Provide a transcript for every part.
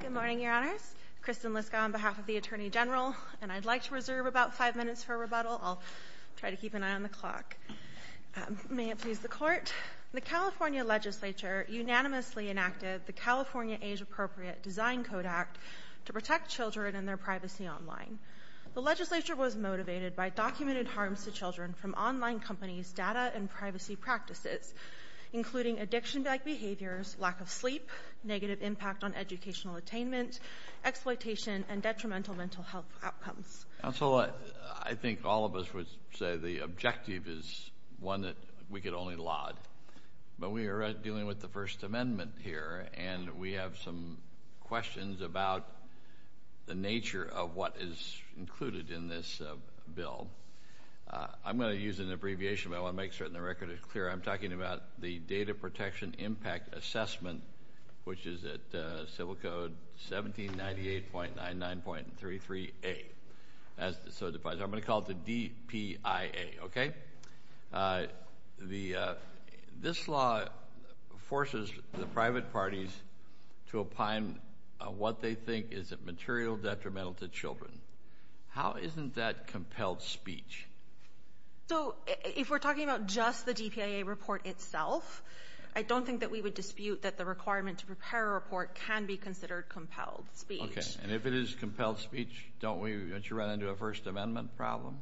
Good morning, Your Honors. Kristin Liskow on behalf of the Attorney General, and I'd like to reserve about five minutes for rebuttal. I'll try to keep an eye on the clock. May it please the Court. The California Legislature unanimously enacted the California Age-Appropriate Design Code Act to protect children and their privacy online. The Legislature was motivated by documented harms to children from online companies' data and privacy practices, including addiction-like behaviors, lack of sleep, negative impact on educational attainment, exploitation, and detrimental mental health outcomes. Counselor, I think all of us would say the objective is one that we could only laud, but we are dealing with the First Amendment here, and we have some questions about the nature of what is included in this bill. I'm going to use an abbreviation, but I want to make certain the record is clear. I'm talking about the Data Protection Impact Assessment, which is at Civil Code 1798.99.33a. I'm going to call it the DPIA, okay? This law forces the private parties to opine what they think is a material detrimental to children. How isn't that compelled speech? So, if we're talking about just the DPIA report itself, I don't think that we would dispute that the requirement to prepare a report can be considered compelled speech. Okay, and if it is compelled speech, don't you run into a First Amendment problem?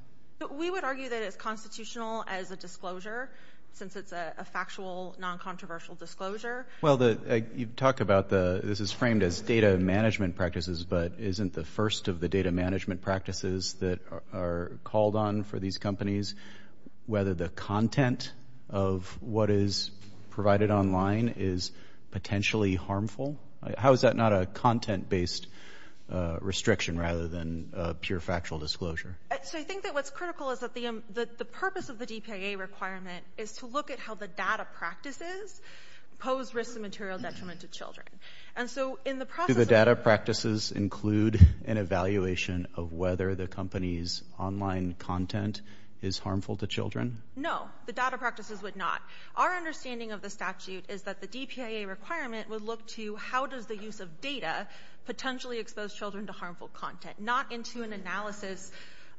We would argue that it's constitutional as a disclosure, since it's a factual, non-controversial disclosure. Well, you talk about this is framed as data management practices, but isn't the first of the data management practices that are called on for these companies whether the content of what is provided online is potentially harmful? How is that not a content-based restriction rather than a pure factual disclosure? So, I think that what's critical is that the purpose of the DPIA requirement is to look at how the data practices pose risks of material detriment to children. And so, in the process Do the data practices include an evaluation of whether the company's online content is harmful to children? No, the data practices would not. Our understanding of the statute is that the DPIA requirement would look to how does the use of data potentially expose children to harmful content, not into an analysis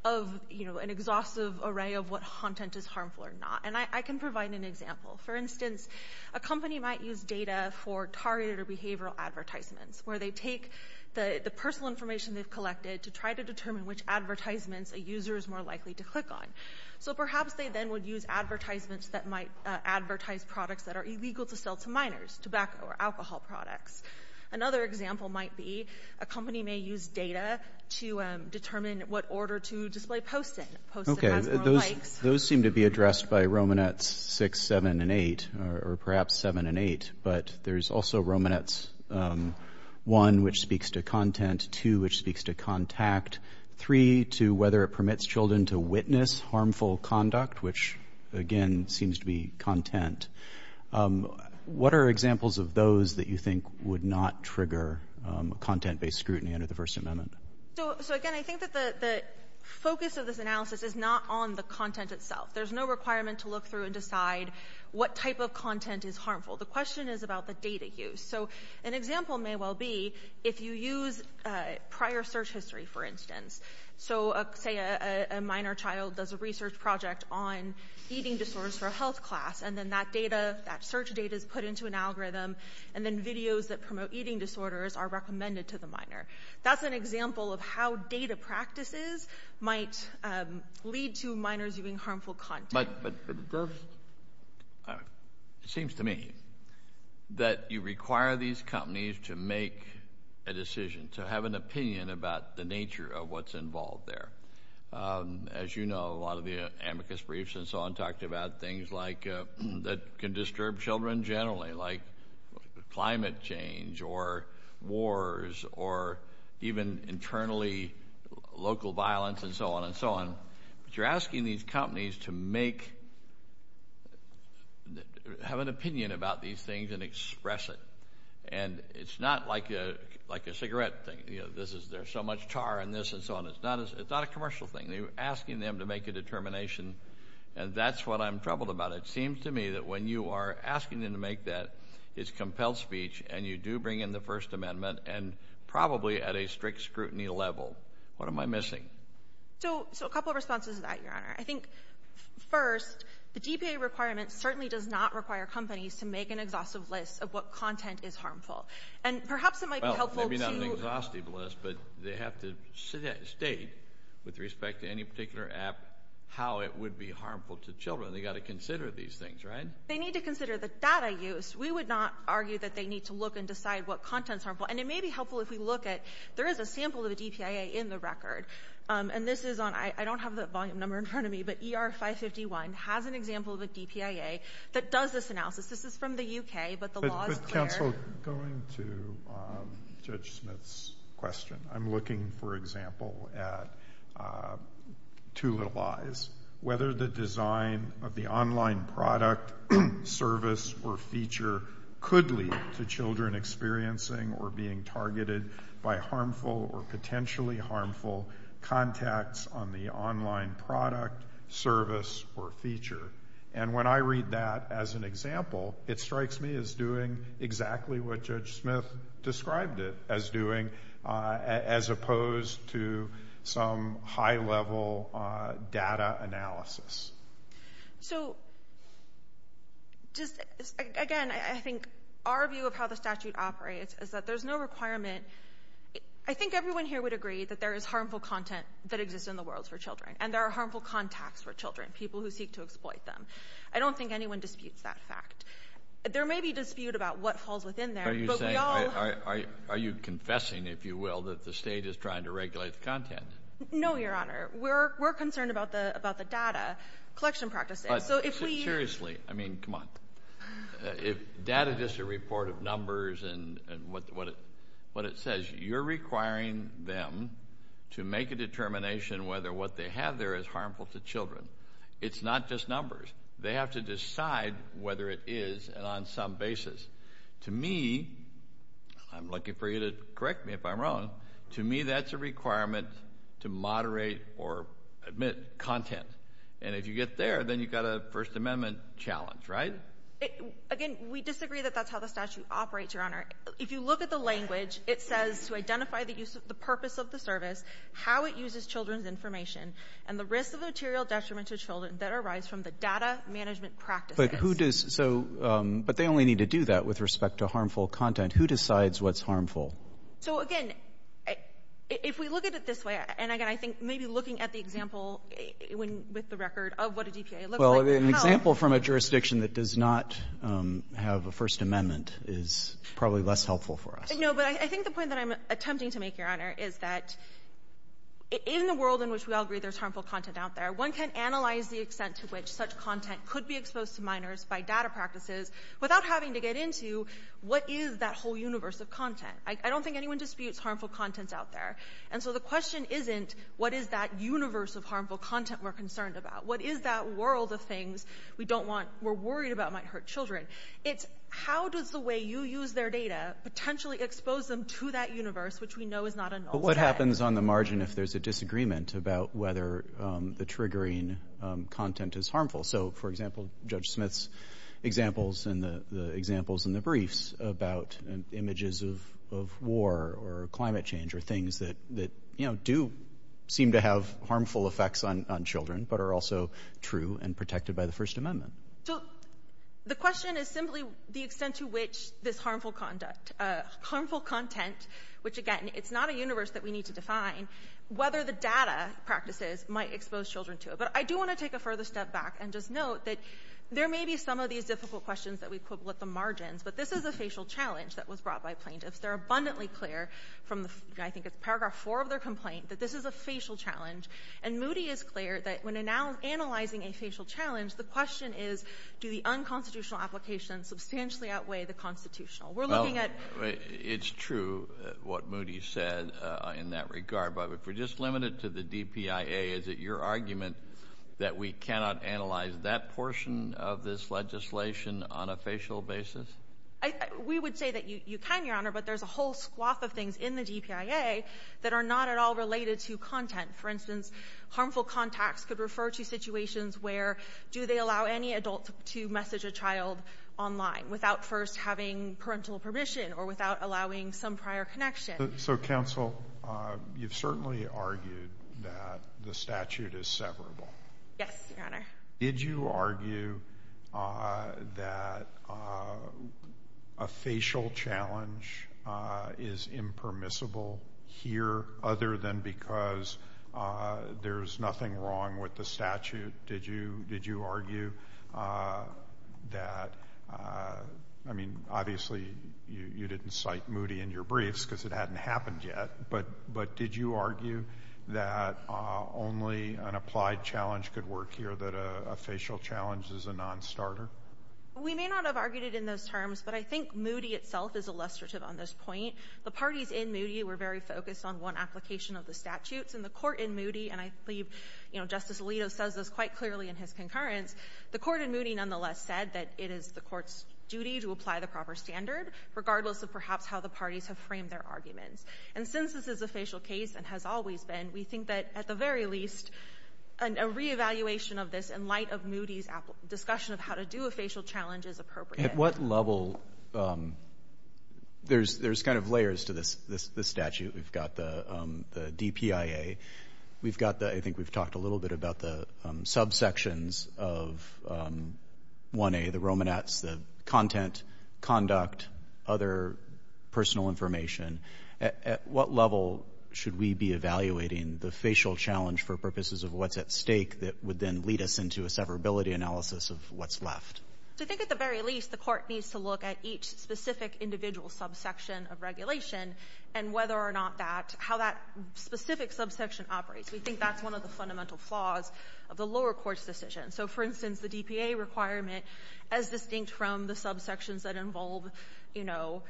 of an exhaustive array of what content is harmful or not. And I can provide an example. For instance, a company might use data for targeted behavioral advertisements where they take the personal information they've collected to try to determine which advertisements a user is more likely to click on. So, perhaps they then would use advertisements that might advertise products that are illegal to sell to minors, tobacco or alcohol products. Another example might be a company may use data to determine what order to display Post-it. Those seem to be addressed by Romanets 6, 7, and 8, or perhaps 7 and 8, but there's also Romanets 1, which speaks to content, 2, which speaks to contact, 3, to whether it permits children to witness harmful conduct, which, again, seems to be content. What are examples of those that you think would not trigger content-based scrutiny under the First Amendment? So, again, I think that the focus of this analysis is not on the content itself. There's no requirement to look through and decide what type of content is harmful. The question is about the data use. So, an example may well be if you use prior search history, for instance. So, say a minor child does a research project on eating disorders for a health class, and then that data, that search data is put into an algorithm, and then videos that promote eating disorders are recommended to the minor. That's an example of how data practices might lead to minors using harmful content. But it seems to me that you require these companies to make a decision, to have an opinion about the nature of what's involved there. As you know, a lot of the amicus briefs and so on talked about things like that can disturb children generally, like climate change or wars or even internally local violence and so on and so on. But you're asking these companies to have an opinion about these things and express it. And it's not like a cigarette thing. There's so much tar in this and so on. It's not a commercial thing. You're asking them to make a determination, and that's what I'm troubled about. It seems to me that when you are asking them to make that, it's compelled speech, and you do bring in the First Amendment, and probably at a strict scrutiny level. What am I missing? So a couple of responses to that, Your Honor. I think, first, the DPA requirement certainly does not require companies to make an exhaustive list of what content is harmful. And perhaps it might be helpful to— Well, maybe not an exhaustive list, but they have to state, with respect to any particular app, how it would be harmful to children. They've got to consider these things, right? They need to consider the data use. We would not argue that they need to look and decide what content is harmful. And it may be helpful if we look at—there is a sample of the DPA in the record. And this is on—I don't have the volume number in front of me, but ER 551 has an example of a DPA that does this analysis. This is from the U.K., but the law is clear. But, Counsel, going to Judge Smith's question, I'm looking, for example, at two little eyes. Whether the design of the online product, service, or feature could lead to children experiencing or being targeted by harmful or potentially harmful contacts on the online product, service, or feature. And when I read that as an example, it strikes me as doing exactly what Judge Smith described it as doing, as opposed to some high-level data analysis. So, just, again, I think our view of how the statute operates is that there's no requirement—I think everyone here would agree that there is harmful content that exists in the world for children, and there are harmful contacts for children, people who seek to exploit them. I don't think anyone disputes that fact. There may be dispute about what falls within there, but we all— Are you saying—are you confessing, if you will, that the state is trying to regulate the content? No, Your Honor. We're concerned about the data collection practices. So, if we— But, seriously, I mean, come on. If data is just a report of numbers and what it says, you're requiring them to make a determination whether what they have there is harmful to children. It's not just numbers. They have to decide whether it is, and on some basis. To me—I'm looking for you to correct me if I'm wrong—to me, that's a requirement to moderate or admit content. And if you get there, then you've got a First Amendment challenge, right? Again, we disagree that that's how the statute operates, Your Honor. If you look at the language, it says, to identify the purpose of the service, how it uses children's information, and the risks of material detriment to children that arise from the data management practices. But who does—so—but they only need to do that with respect to harmful content. Who decides what's harmful? So, again, if we look at it this way—and, again, I think maybe looking at the example with the record of what a DPA looks like— Well, an example from a jurisdiction that does not have a First Amendment is probably less helpful for us. No, but I think the point that I'm attempting to make, Your Honor, is that in the world in which we all agree there's harmful content out there, one can analyze the extent to which such content could be exposed to minors by data practices without having to get into what is that whole universe of content. I don't think anyone disputes harmful content out there. And so the question isn't, what is that universe of harmful content we're concerned about? What is that world of things we don't want—we're worried about might hurt children? It's, how does the way you use their data potentially expose them to that universe, which we know is not a null set? But what happens on the margin if there's a disagreement about whether the triggering content is harmful? So, for example, Judge Smith's examples and the examples in the briefs about images of war or climate change or things that, you know, do seem to have harmful effects on children but are also true and protected by the First Amendment. So the question is simply the extent to which this harmful conduct, harmful content, which, again, it's not a universe that we need to define, whether the data practices might expose children to it. But I do want to take a further step back and just note that there may be some of these difficult questions that we put with the margins, but this is a facial challenge that was brought by plaintiffs. They're abundantly clear from the—I think it's Paragraph 4 of their complaint that this is a facial challenge. And Moody is clear that when analyzing a facial challenge, the question is, do the unconstitutional applications substantially outweigh the constitutional? We're looking at— Well, it's true what Moody said in that regard. But if we're just limited to the DPIA, is it your argument that we cannot analyze that portion of this legislation on a facial basis? We would say that you can, Your Honor, but there's a whole swath of things in the DPIA that are not at all related to content. For instance, harmful contacts could refer to situations where, do they allow any adult to message a child online without first having parental permission or without allowing some prior connection? So, Counsel, you've certainly argued that the statute is severable. Yes, Your Honor. Did you argue that a facial challenge is impermissible here other than because there's nothing wrong with the statute? Did you argue that—I mean, obviously, you didn't cite Moody in your briefs because it hadn't happened yet, but did you argue that only an applied challenge could work here, that a facial challenge is a non-starter? We may not have argued it in those terms, but I think Moody itself is illustrative on this point. The parties in Moody were very focused on one application of the statutes in the court in Moody, and I believe, you know, Justice Alito says this quite clearly in his concurrence. The court in Moody nonetheless said that it is the court's duty to apply the proper standard, regardless of perhaps how the parties have framed their arguments. And since this is a facial case and has always been, we think that at the very least, a reevaluation of this in light of Moody's discussion of how to do a facial challenge is appropriate. At what level—there's kind of layers to this statute. We've got the DPIA. We've got the—I think we've talked a little bit about the subsections of 1A, the Romanets, the content, conduct, other personal information. At what level should we be evaluating the facial challenge for purposes of what's at stake that would then lead us into a severability analysis of what's left? So I think at the very least, the court needs to look at each specific individual subsection of regulation and whether or not that—how that specific subsection operates. We think that's one of the fundamental flaws of the lower court's decision. So, for instance, the DPA requirement as distinct from the subsections that involve, you know,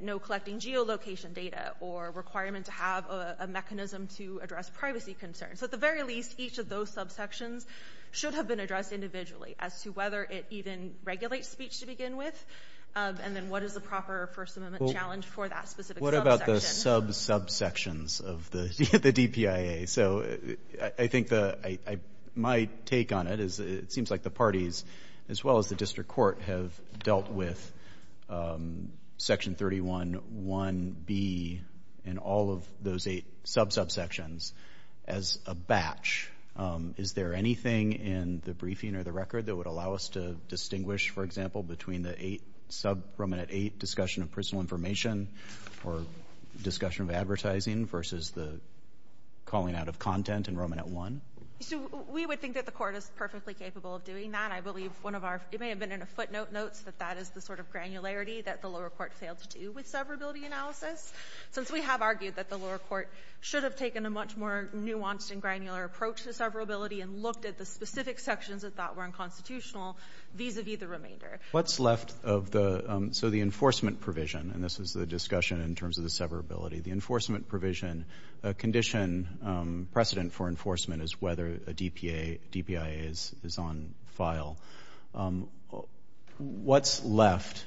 no collecting geolocation data or requirement to have a mechanism to address privacy concerns. So at the very least, each of those subsections should have been addressed individually as to whether it even regulates speech to begin with and then what is the proper First Amendment challenge for that specific subsection. The sub-subsections of the DPIA. So I think the—my take on it is it seems like the parties as well as the district court have dealt with Section 31.1.B and all of those eight sub-subsections as a batch. Is there anything in the briefing or the record that would allow us to distinguish, for example, between the eight—sub-Roman at eight discussion of personal information or discussion of advertising versus the calling out of content in Roman at one? We would think that the court is perfectly capable of doing that. I believe one of our—it may have been in a footnote notes that that is the sort of granularity that the lower court failed to do with severability analysis. Since we have argued that the lower court should have taken a much more nuanced and granular approach to severability and looked at the specific sections that that were unconstitutional vis-a-vis the remainder. What's left of the—so the enforcement provision, and this is the discussion in terms of the severability, the enforcement provision, a condition precedent for enforcement is whether a DPIA is on file. What's left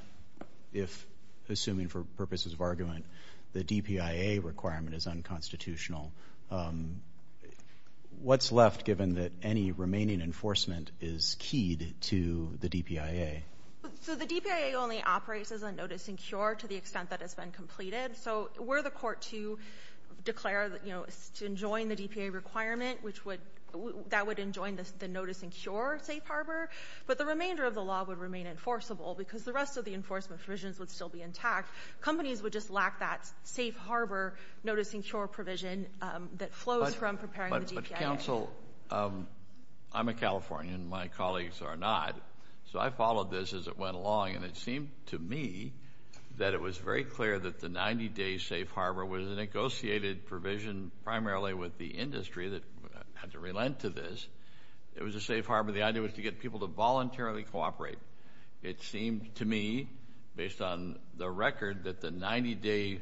if, assuming for purposes of argument, the DPIA requirement is unconstitutional? What's left given that any remaining enforcement is keyed to the DPIA? So the DPIA only operates as a notice and cure to the extent that it's been completed. So were the court to declare, you know, to enjoin the DPIA requirement, which would—that would enjoin the notice and cure safe harbor, but the remainder of the law would remain enforceable because the rest of the enforcement provisions would still be intact. Companies would just lack that safe harbor notice and cure provision that flows from preparing the DPIA. But counsel, I'm a Californian, my colleagues are not, so I followed this as it went along and it seemed to me that it was very clear that the 90-day safe harbor was a negotiated provision primarily with the industry that had to relent to this. It was a safe harbor. The idea was to get people to voluntarily cooperate. It seemed to me, based on the record, that the 90-day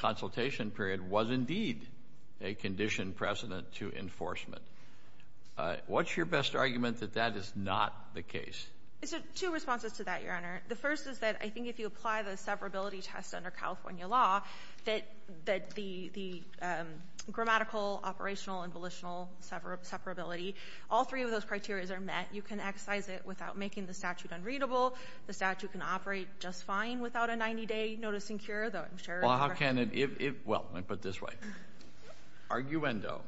consultation period was indeed a condition precedent to enforcement. What's your best argument that that is not the case? So two responses to that, Your Honor. The first is that I think if you apply the separability test under California law, that the grammatical, operational, and volitional separability, all three of those criteria are met. You can exercise it without making the statute unreadable. The statute can operate just fine without a 90-day notice and cure, though I'm sure— Well, how can it—well, let me put it this way. Arguendo.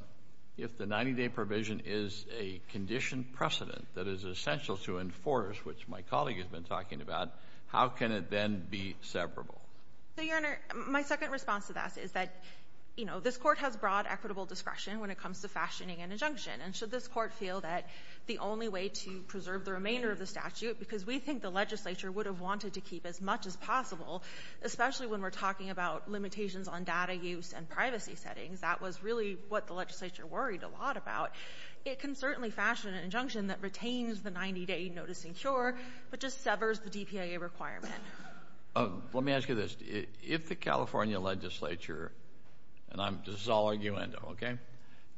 If the 90-day provision is a condition precedent that is essential to enforce, which my colleague has been talking about, how can it then be separable? So, Your Honor, my second response to that is that, you know, this Court has broad equitable discretion when it comes to fashioning an injunction. And should this Court feel that the only way to preserve the remainder of the statute, because we think the legislature would have wanted to keep as much as possible, especially when we're talking about limitations on data use and privacy settings, that was really what the legislature worried a lot about, it can certainly fashion an injunction that retains the 90-day notice and cure, but just severs the DPAA requirement. Let me ask you this. If the California legislature—and this is all arguendo, okay?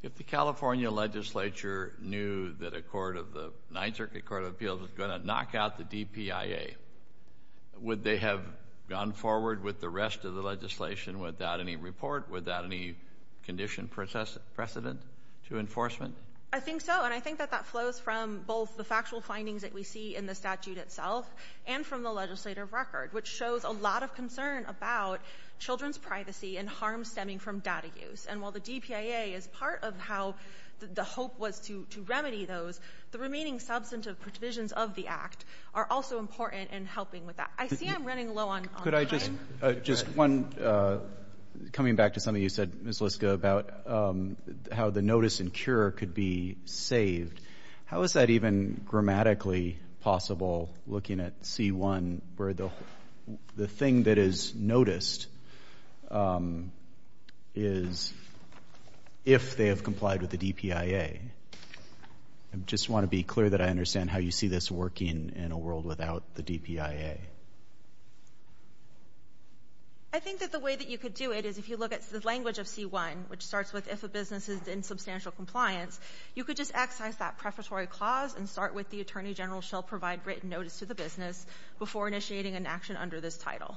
If the California legislature knew that a court of the Ninth Circuit Court of Appeals was going to knock out the DPAA, would they have gone forward with the rest of the legislation without any report, without any condition precedent to enforcement? I think so. And I think that that flows from both the factual findings that we see in the statute itself and from the legislative record, which shows a lot of concern about children's privacy and harm stemming from data use. And while the DPAA is part of how the hope was to remedy those, the remaining substantive provisions of the Act are also important in helping with that. I see I'm running low on time. Just one—coming back to something you said, Ms. Liska, about how the notice and cure could be saved. How is that even grammatically possible, looking at C-1, where the thing that is noticed is if they have complied with the DPAA? I just want to be clear that I understand how you see this working in a world without the DPAA. I think that the way that you could do it is if you look at the language of C-1, which starts with if a business is in substantial compliance, you could just excise that prefatory clause and start with the attorney general shall provide written notice to the business before initiating an action under this title.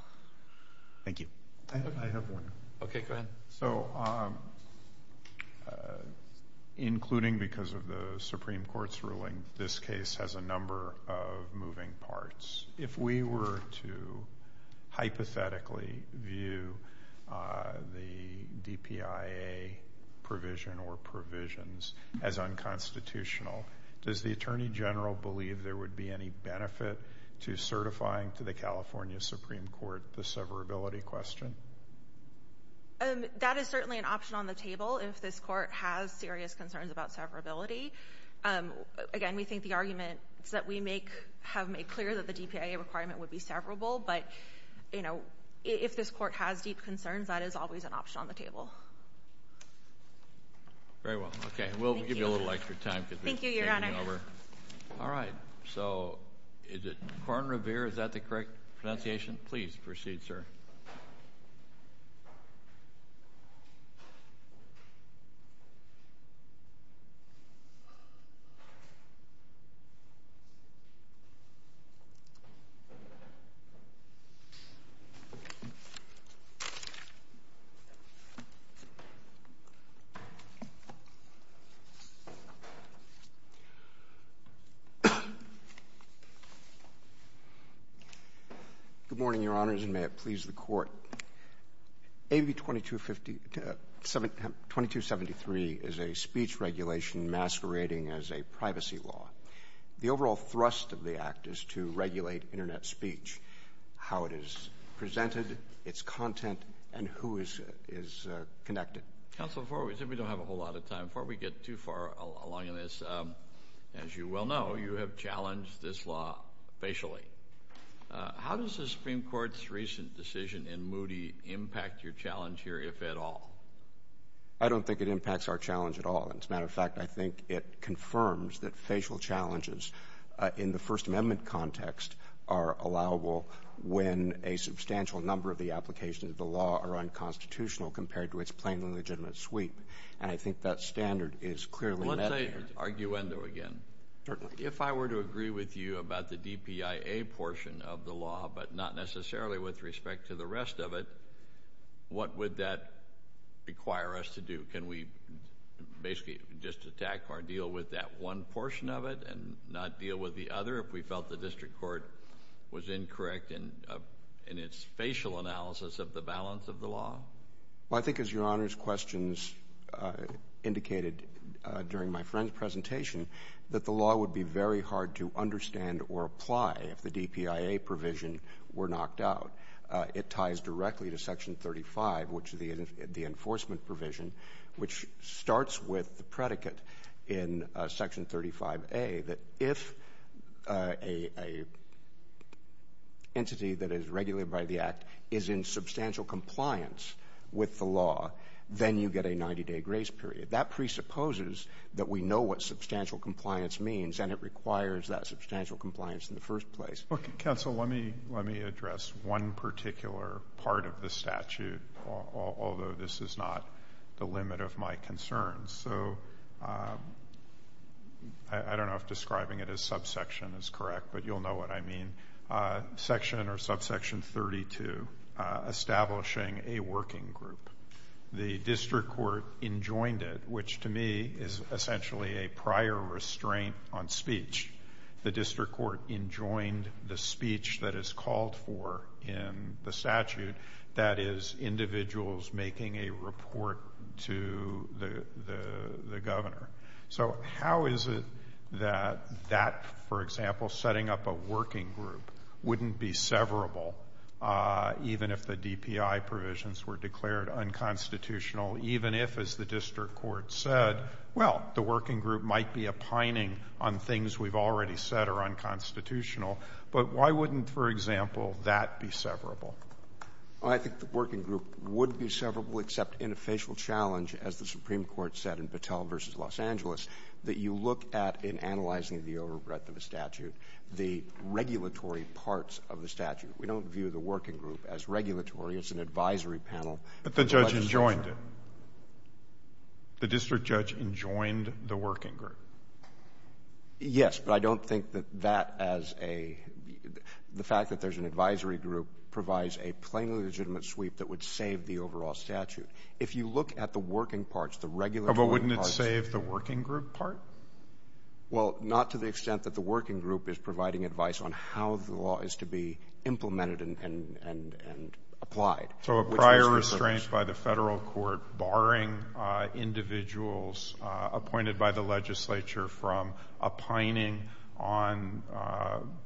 Thank you. I have one. Okay, go ahead. So including because of the Supreme Court's ruling, this case has a number of moving parts. If we were to hypothetically view the DPAA provision or provisions as unconstitutional, does the attorney general believe there would be any benefit to certifying to the California Supreme Court the severability question? That is certainly an option on the table if this Court has serious concerns about severability. Again, we think the arguments that we have made clear that the DPAA requirement would be severable, but if this Court has deep concerns, that is always an option on the table. Very well. Okay, we'll give you a little extra time because we're changing over. All right, so is it Korn Revere, is that the correct pronunciation? Please proceed, sir. Good morning, Your Honors, and may it please the Court. AB 2273 is a speech regulation masquerading as a privacy law. The overall thrust of the act is to regulate Internet speech, how it is presented, its content, and who is connected. Counsel, before we get too far along in this, as you well know, you have a lot of time. You have challenged this law facially. How does the Supreme Court's recent decision in Moody impact your challenge here, if at all? I don't think it impacts our challenge at all. As a matter of fact, I think it confirms that facial challenges in the First Amendment context are allowable when a substantial number of the applications of the law are unconstitutional compared to its plainly legitimate sweep, and I think that standard is clearly met there. Let's say, arguendo again, if I were to agree with you about the DPIA portion of the law, but not necessarily with respect to the rest of it, what would that require us to do? Can we basically just attack or deal with that one portion of it and not deal with the other if we felt the district court was incorrect in its facial analysis of the balance of the law? Well, I think as Your Honor's questions indicated during my friend's presentation, that the law would be very hard to understand or apply if the DPIA provision were knocked out. It ties directly to Section 35, which is the enforcement provision, which starts with the predicate in Section 35A that if an entity that is regulated by the Act is in substantial compliance with the law, then you get a 90-day grace period. That presupposes that we know what substantial compliance means, and it requires that substantial compliance in the first place. Counsel, let me address one particular part of the statute, although this is not the limit of my concerns. So, I don't know if describing it as subsection is correct, but you'll know what I mean. Section or subsection 32, establishing a working group. The district court enjoined it, which to me is essentially a prior restraint on speech. The district court enjoined the speech that is called for in the statute that is individuals making a report to the governor. So, how is it that that, for example, setting up a working group wouldn't be severable even if the DPI provisions were declared unconstitutional, even if, as the district court said, well, the working group might be opining on things we've already said are unconstitutional. But why wouldn't, for example, that be severable? I think the working group would be severable except in a facial challenge, as the Supreme Court said in Los Angeles, that you look at, in analyzing the overbreadth of the statute, the regulatory parts of the statute. We don't view the working group as regulatory. It's an advisory panel. But the judge enjoined it. The district judge enjoined the working group. Yes, but I don't think that that as a — the fact that there's an advisory group provides a plainly legitimate sweep that would save the overall statute. If you look at the working parts, the regulatory parts — But wouldn't it save the working group part? Well, not to the extent that the working group is providing advice on how the law is to be implemented and applied. So, a prior restraint by the federal court barring individuals appointed by the legislature from opining on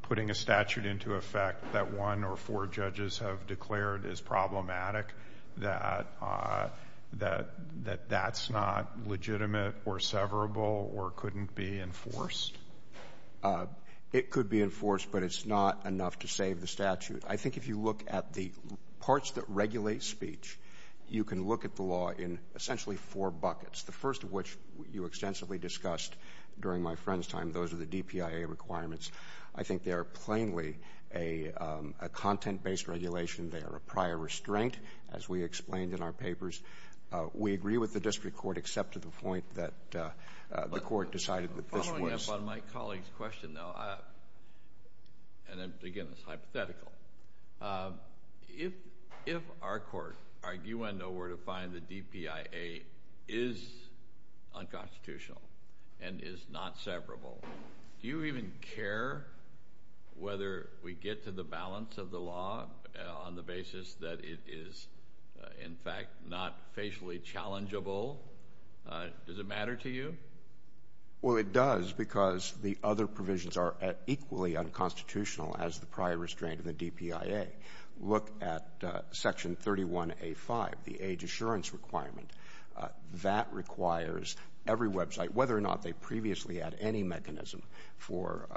putting a statute into effect that one or four judges have declared is problematic, that that's not legitimate or severable or couldn't be enforced? It could be enforced, but it's not enough to save the statute. I think if you look at the parts that regulate speech, you can look at the law in essentially four buckets, the first of which you extensively discussed during my friend's time. Those are the DPIA requirements. I think they are plainly a content-based regulation. They are a prior restraint, as we explained in our papers. We agree with the district court, except to the point that the court decided that this was — Following up on my colleague's question, though, and again, it's hypothetical. If our court, our U.N. know where to find the DPIA, is unconstitutional and is not severable, do you even care whether we get to the balance of the law on the basis that it is, in fact, not facially challengeable? Does it matter to you? Well, it does, because the other provisions are equally unconstitutional as the prior restraint and the DPIA. Look at Section 31A.5, the age assurance requirement. That requires every website, whether or not they previously had any mechanism for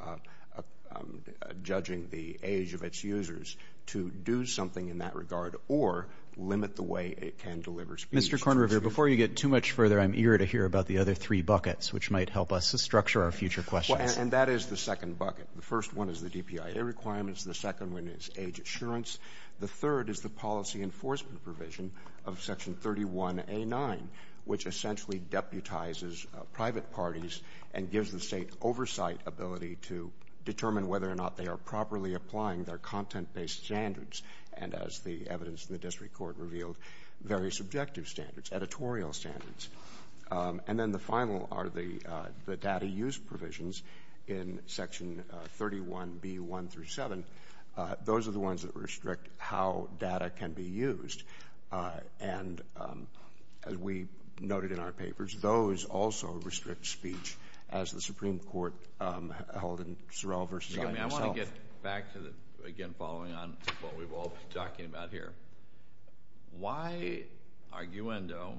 judging the age of its users, to do something in that regard or limit the way it can deliver speech. Mr. Kornrever, before you get too much further, I'm eager to hear about the other three buckets, which might help us to structure our future questions. And that is the second bucket. The first one is the DPIA requirements. The second one is age assurance. The third is the policy enforcement provision of Section 31A.9, which essentially deputizes private parties and gives the state oversight ability to determine whether or not they are properly applying their content-based standards and, as the evidence in the district court revealed, very subjective standards, editorial standards. And then the final are the data use provisions in Section 31B.1-7. Those are the ones that restrict how data can be used. And, as we noted in our papers, those also restrict speech, as the Supreme Court held in Sorrell v. I and myself. I want to get back to, again, following on what we've all been talking about here. Why, arguendo,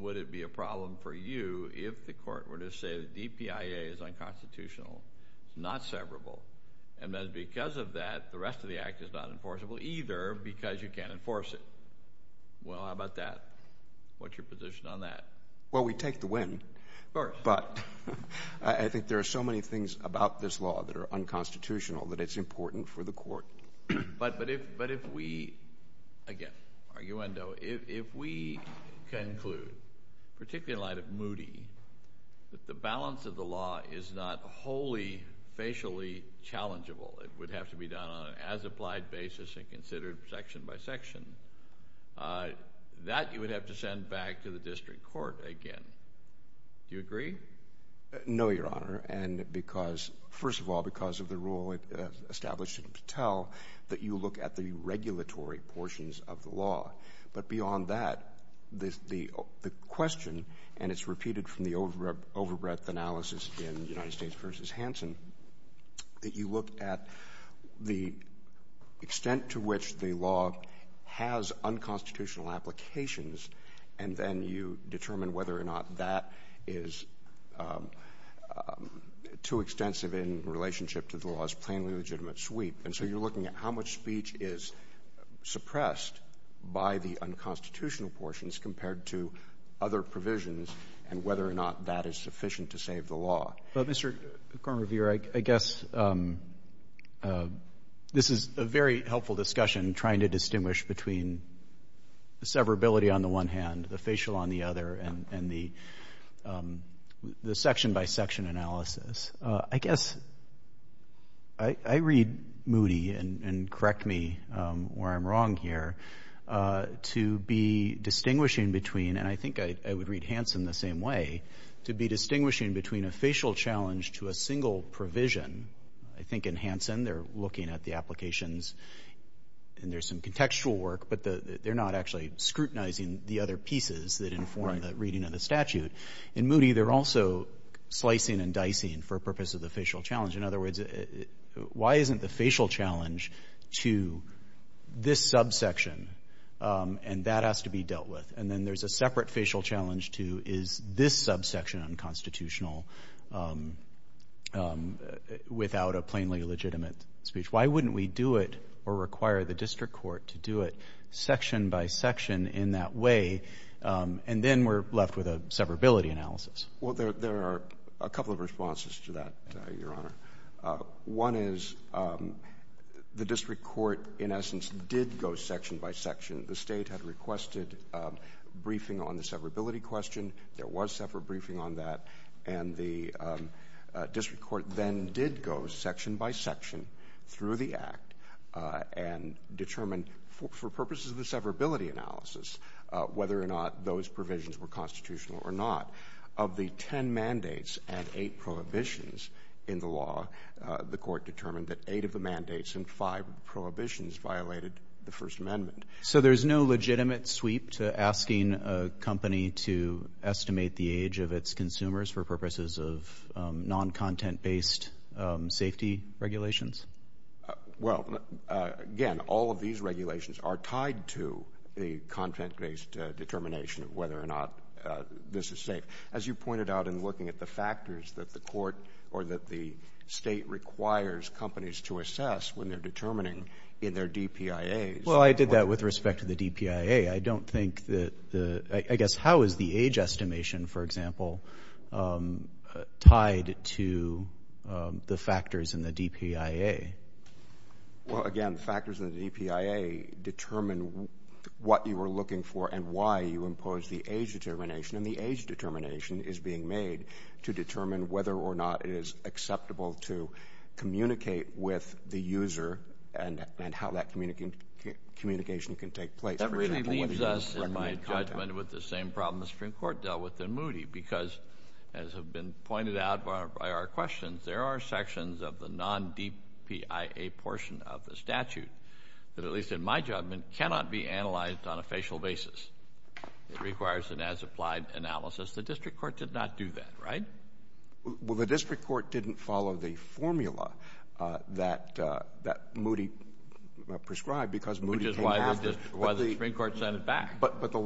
would it be a problem for you if the Court were to say the DPIA is unconstitutional, it's not severable, and then because of that, the rest of the Act is not either, because you can't enforce it? Well, how about that? What's your position on that? Well, we take the win, but I think there are so many things about this law that are unconstitutional that it's important for the Court. But if we, again, arguendo, if we conclude, particularly in light of Moody, that the balance of the law is not wholly, facially challengeable, it would have to be done on an as-applied basis and considered section by section, that you would have to send back to the District Court again. Do you agree? No, Your Honor. And because, first of all, because of the rule established in Patel, that you look at the regulatory portions of the law. But beyond that, the question, and it's repeated from the over-breath analysis in United States v. Hansen, that you look at the extent to which the law has unconstitutional applications, and then you determine whether or not that is too extensive in relationship to the law's plainly legitimate sweep. And so you're looking at how much speech is suppressed by the unconstitutional portions compared to other provisions and whether or not that is sufficient to save the law. But, Mr. Kornrever, I guess this is a very helpful discussion, trying to distinguish between severability on the one hand, the facial on the other, and the section by section analysis. I guess I read Moody, and correct me where I'm wrong here, to be distinguishing between, and I think I would read Hansen the same way, to be distinguishing between a facial challenge to a single provision. I think in Hansen, they're looking at the applications, and there's some contextual work, but they're not actually scrutinizing the other pieces that inform the reading of the statute. In Moody, they're also slicing and dicing for purpose of the facial challenge. In other words, why isn't the facial challenge to this subsection, and that has to be dealt with? And then there's a separate facial challenge to, is this subsection unconstitutional without a plainly legitimate speech? Why wouldn't we do it or require the district court to do it section by section in that way, and then we're left with a severability analysis? Well, there are a couple of responses to that, Your Honor. One is the district court, in essence, did go section by section. The state had requested briefing on the severability question. There was separate briefing on that, and the district court then did go section by section through the act and determine, for purposes of the severability analysis, whether or not those provisions were constitutional or not. Of the ten mandates and eight prohibitions in the law, the court determined that eight of the mandates and five prohibitions violated the First Amendment. So there's no legitimate sweep to asking a company to estimate the age of its consumers for purposes of non-content-based safety regulations? Well, again, all of these regulations are tied to the content-based determination of whether or not this is safe. As you pointed out in looking at the factors that the court or that the state requires companies to assess when they're determining in their DPIAs. Well, I did that with respect to the DPIA. I don't think that the, I guess, how is the age estimation, for example, tied to the factors in the DPIA? Well, again, the factors in the DPIA determine what you are looking for and why you impose the age determination, and the age determination is being made to determine whether or not it is acceptable to communicate with the user and how that communication can take place. That really leaves us, in my judgment, with the same problem the Supreme Court dealt with in Moody, because, as has been pointed out by our questions, there are sections of the non-DPIA portion of the statute that, at least in my judgment, cannot be analyzed on a facial basis. It requires an as-applied analysis. The district court did not do that, right? Well, the district court didn't follow the formula that Moody prescribed because Moody came after it. Which is why the Supreme Court sent it back. But the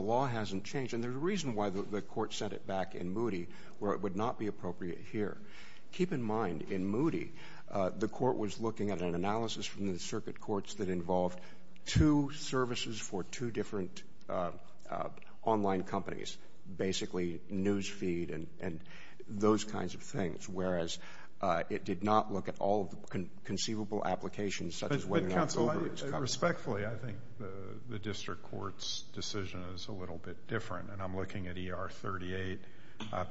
law hasn't changed, and there's a reason why the court sent it back in Moody, where it would not be appropriate here. Keep in mind, in Moody, the court was looking at an analysis from the circuit courts that involved two services for two different online companies, basically news feed and those kinds of things, whereas it did not look at all of the conceivable applications, such as whether or not Uber was covered. But, counsel, respectfully, I think the district court's decision is a little bit different, and I'm looking at ER 38,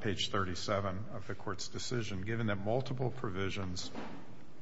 page 37 of the court's decision. Given that multiple provisions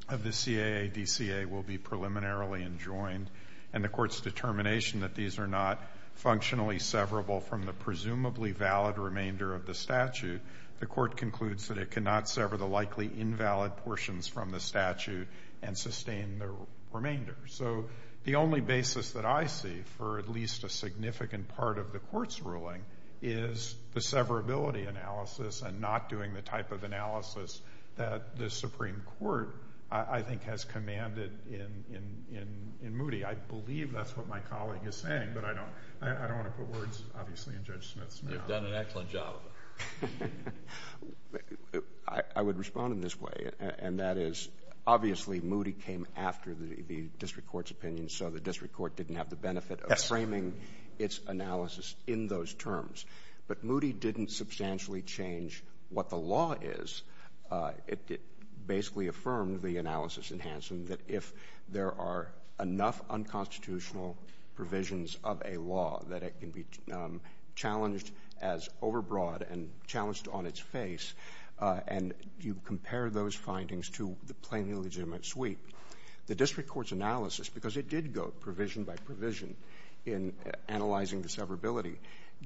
of the CAA-DCA will be preliminarily enjoined, and the court's determination that these are not functionally severable from the presumably valid remainder of the statute, the court concludes that it cannot sever the likely invalid portions from the statute and sustain the remainder. So, the only basis that I see for at least a significant part of the court's ruling is the severability analysis and not doing the type of analysis that the Supreme Court, I think, has commanded in Moody. I believe that's what my colleague is saying, but I don't want to put words, obviously, in Judge Smith's mouth. You've done an excellent job of it. I would respond in this way, and that is, obviously, Moody came after the district court's opinion, so the district court didn't have the benefit of framing its analysis in those terms. But Moody didn't substantially change what the law is. It basically affirmed the analysis in Hansen that if there are enough unconstitutional provisions of a law that it can be challenged as overbroad and challenged on its face, and you compare those findings to the plainly legitimate sweep, the district court's analysis, because it did go provision by provision in analyzing the severability,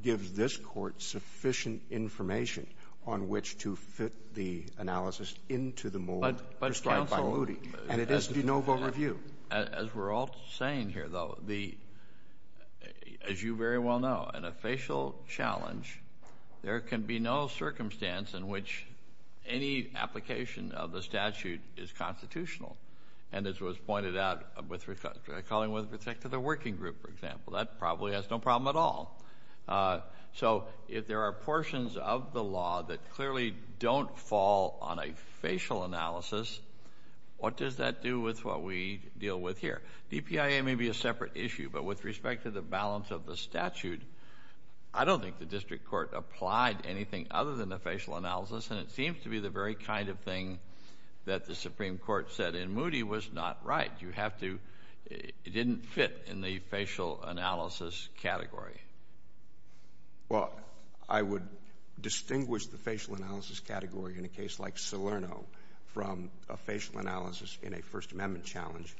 gives this court sufficient information on which to fit the analysis into the mold prescribed by Moody, and it is the de novo review. As we're all saying here, though, as you very well know, in a facial challenge, there can be no circumstance in which any application of the statute is constitutional. And as was pointed out with calling with respect to the working group, for example, that probably has no problem at all. So if there are portions of the law that clearly don't fall on a facial analysis, what does that do with what we deal with here? DPIA may be a separate issue, but with respect to the balance of the statute, I don't think the district court applied anything other than a facial analysis, and it seems to be the very kind of thing that the Supreme Court said in Moody was not right. You have to, it didn't fit in the facial analysis category. Well, I would distinguish the facial analysis category in a case like Salerno from a facial analysis in a First Amendment challenge,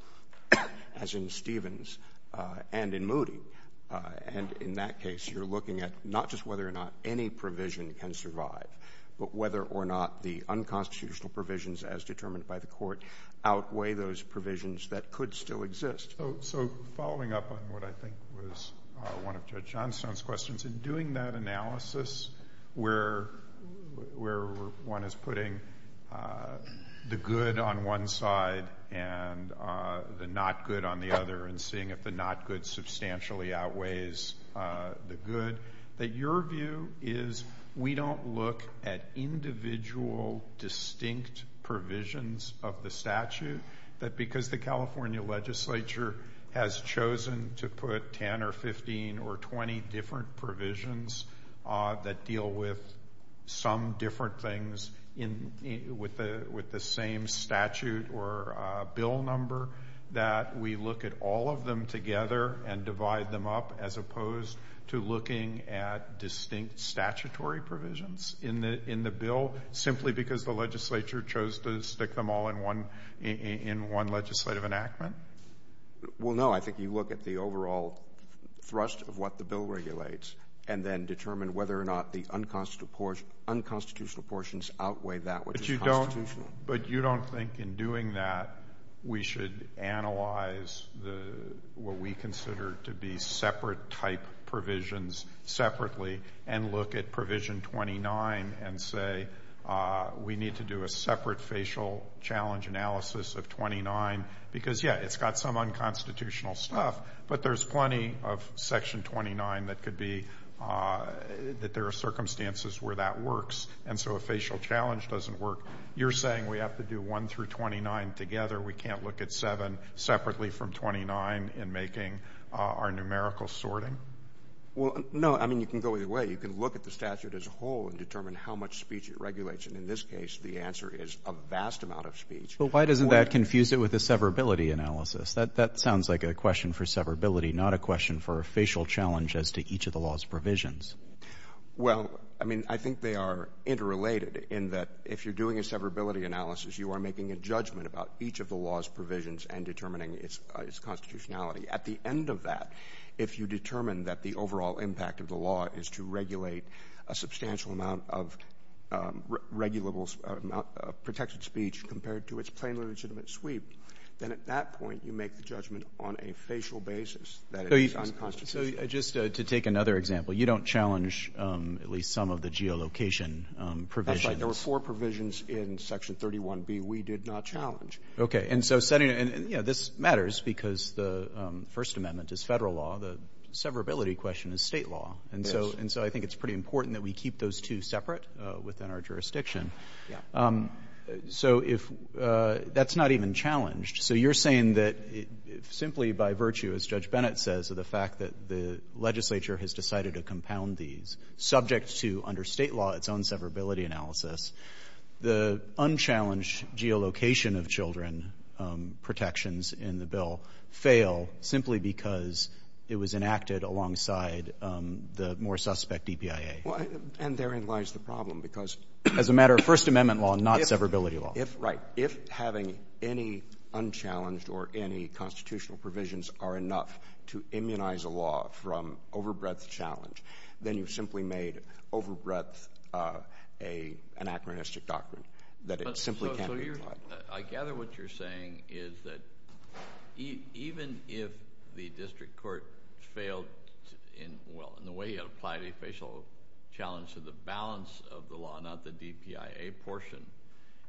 as in Stevens and in Moody. And in that case, you're looking at not just whether or not any provision can survive, but whether or not the unconstitutional provisions as determined by the court outweigh those provisions that could still exist. So following up on what I think was one of Judge Johnstone's questions, in doing that analysis where one is putting the good on one side and the not good on the other and seeing if the not good substantially outweighs the good, that your view is we don't look at individual distinct provisions of the statute, that because the California legislature has chosen to put 10 or 15 or 20 different provisions that deal with some different things with the same statute or bill number, that we look at all of them together and divide them up as opposed to looking at distinct statutory provisions in the bill simply because the legislature chose to stick them all in one legislative enactment? Well, no, I think you look at the overall thrust of what the bill regulates and then determine whether or not the unconstitutional portions outweigh that which is constitutional. But you don't think in doing that we should analyze what we consider to be separate type provisions separately and look at provision 29 and say we need to do a separate facial challenge analysis of 29 because, yeah, it's got some unconstitutional stuff, but there's plenty of section 29 that could be that there are circumstances where that works and so a facial challenge doesn't work. You're saying we have to do 1 through 29 together, we can't look at 7 separately from 29 in making our numerical sorting? Well, no, I mean you can go either way. You can look at the statute as a whole and determine how much speech it regulates and in this case the answer is a vast amount of speech. But why doesn't that confuse it with a severability analysis? That sounds like a question for severability, not a question for a facial challenge as to each of the law's provisions. Well, I mean I think they are interrelated in that if you're doing a severability analysis, you are making a judgment about each of the law's provisions and determining its constitutionality. At the end of that, if you determine that the overall impact of the law is to regulate a substantial amount of protected speech compared to its plainly legitimate sweep, then at that point you make the judgment on a facial basis that it is unconstitutional. So just to take another example, you don't challenge at least some of the geolocation provisions? That's right. There were four provisions in section 31B we did not challenge. Okay. And so this matters because the First Amendment is federal law, the question is state law. And so I think it's pretty important that we keep those two separate within our jurisdiction. So that's not even challenged. So you're saying that simply by virtue, as Judge Bennett says, of the fact that the legislature has decided to compound these, subject to under state law, its own severability analysis, the unchallenged geolocation of children protections in the bill fail simply because it was enacted alongside the more suspect EPIA? Well, and therein lies the problem because— As a matter of First Amendment law, not severability law. If, right. If having any unchallenged or any constitutional provisions are enough to immunize a law from over breadth challenge, then you've simply made over breadth anachronistic doctrine that it simply can't be applied. I gather what you're saying is that even if the district court failed in, well, in the way it applied a facial challenge to the balance of the law, not the DPIA portion,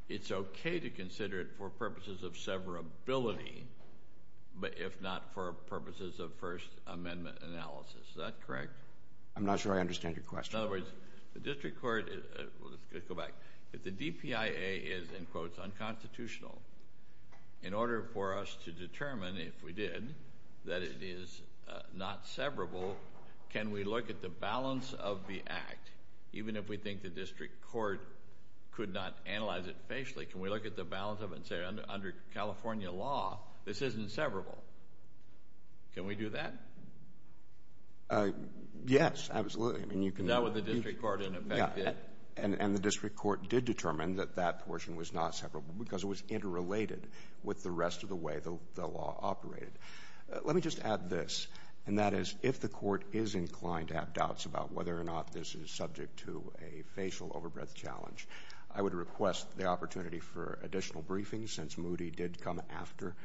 it's okay to consider it for purposes of severability, but if not for purposes of First Amendment analysis. Is that correct? I'm not sure I understand your question. In other words, the district court—let's go back. If the DPIA is, in quotes, unconstitutional, in order for us to determine, if we did, that it is not severable, can we look at the balance of the act, even if we think the district court could not analyze it facially, can we look at the balance of it and say, under California law, this isn't severable? Can we do that? Yes, absolutely. I mean, you can— Is that what the district court, in effect, did? And the district court did determine that that portion was not severable because it was interrelated with the rest of the way the law operated. Let me just add this, and that is, if the court is inclined to have doubts about whether or not this is subject to a facial over breadth challenge, I would request the opportunity for additional briefings since Moody did come after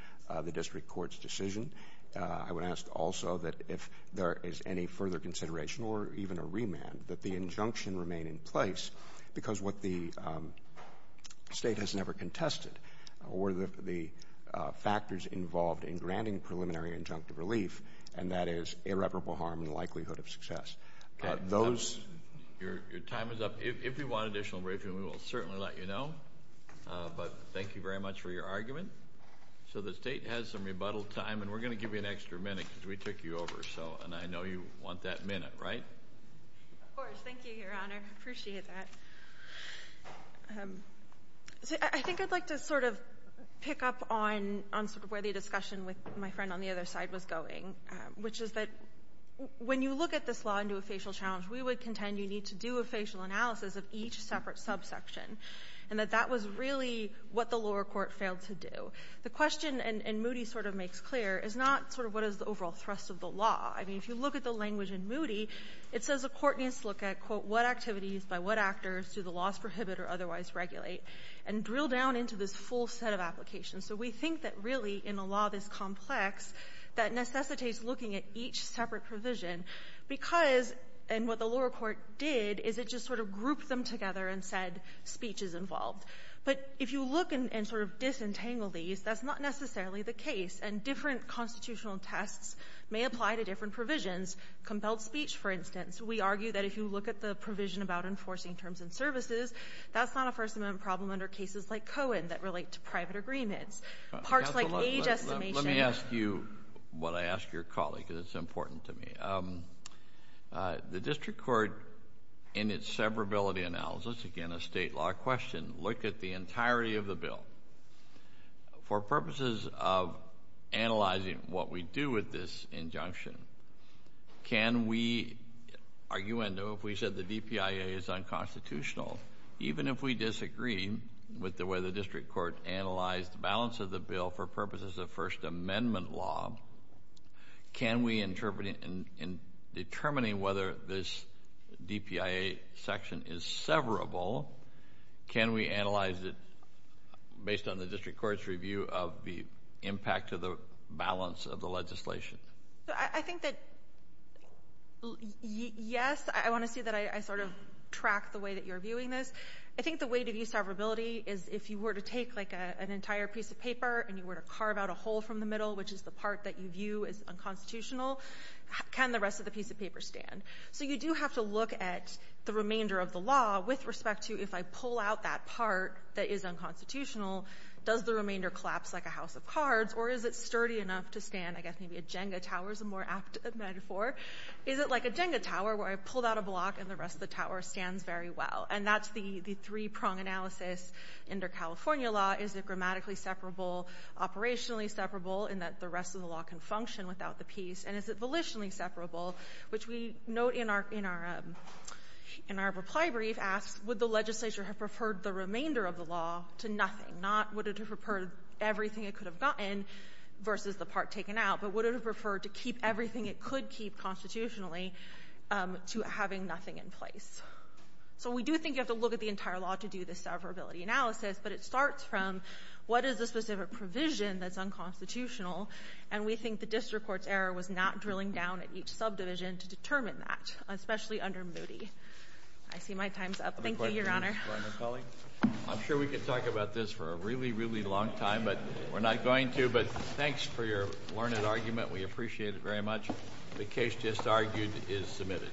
the district court's decision. I would ask also that if there is any further consideration or even a remand, that the injunction remain in place because what the state has never contested were the factors involved in granting preliminary injunctive relief, and that is irreparable harm and likelihood of success. Those— Your time is up. If you want additional briefing, we will certainly let you know, but thank you very much for your argument. So the state has some rebuttal time, and we're going to let you know if you want that minute, right? Of course. Thank you, Your Honor. I appreciate that. I think I'd like to sort of pick up on sort of where the discussion with my friend on the other side was going, which is that when you look at this law and do a facial challenge, we would contend you need to do a facial analysis of each separate subsection, and that that was really what the lower court failed to do. The question, and Moody sort of makes clear, is not sort of the overall thrust of the law. I mean, if you look at the language in Moody, it says a court needs to look at, quote, what activities by what actors do the laws prohibit or otherwise regulate, and drill down into this full set of applications. So we think that really, in a law this complex, that necessitates looking at each separate provision because—and what the lower court did is it just sort of grouped them together and said speech is involved. But if you look and sort of disentangle these, that's not necessarily the case, and different constitutional tests may apply to different provisions. Compelled speech, for instance. We argue that if you look at the provision about enforcing terms and services, that's not a First Amendment problem under cases like Cohen that relate to private agreements. Parts like age estimation— Let me ask you what I ask your colleague because it's important to me. The district court, in its severability analysis, again a state law question, look at the entirety of the bill. For purposes of analyzing what we do with this injunction, can we, arguendo, if we said the DPIA is unconstitutional, even if we disagree with the way the district court analyzed the balance of the bill for purposes of First Amendment law, can we interpret it in determining whether this DPIA section is severable? Can we analyze it based on the district court's review of the impact of the balance of the legislation? I think that, yes, I want to see that I sort of track the way that you're viewing this. I think the way to view severability is if you were to take like an entire piece of paper and you were to carve out a hole from the middle, which is the part that you view as unconstitutional, can the rest of the piece of paper stand? You do have to look at the remainder of the law with respect to if I pull out that part that is unconstitutional, does the remainder collapse like a house of cards or is it sturdy enough to stand? I guess maybe a Jenga tower is a more apt metaphor. Is it like a Jenga tower where I pulled out a block and the rest of the tower stands very well? That's the three-prong analysis under California law. Is it grammatically separable, operationally separable in that the rest of the law can function without the piece, and is it volitionally separable, which we note in our reply brief asks would the legislature have preferred the remainder of the law to nothing, not would it have preferred everything it could have gotten versus the part taken out, but would it have preferred to keep everything it could keep constitutionally to having nothing in place? We do think you have to look at the specific provision that's unconstitutional, and we think the district court's error was not drilling down at each subdivision to determine that, especially under Moody. I see my time's up. Thank you, your honor. I'm sure we could talk about this for a really, really long time, but we're not going to, but thanks for your learned argument. We appreciate it very much. The case just argued is submitted.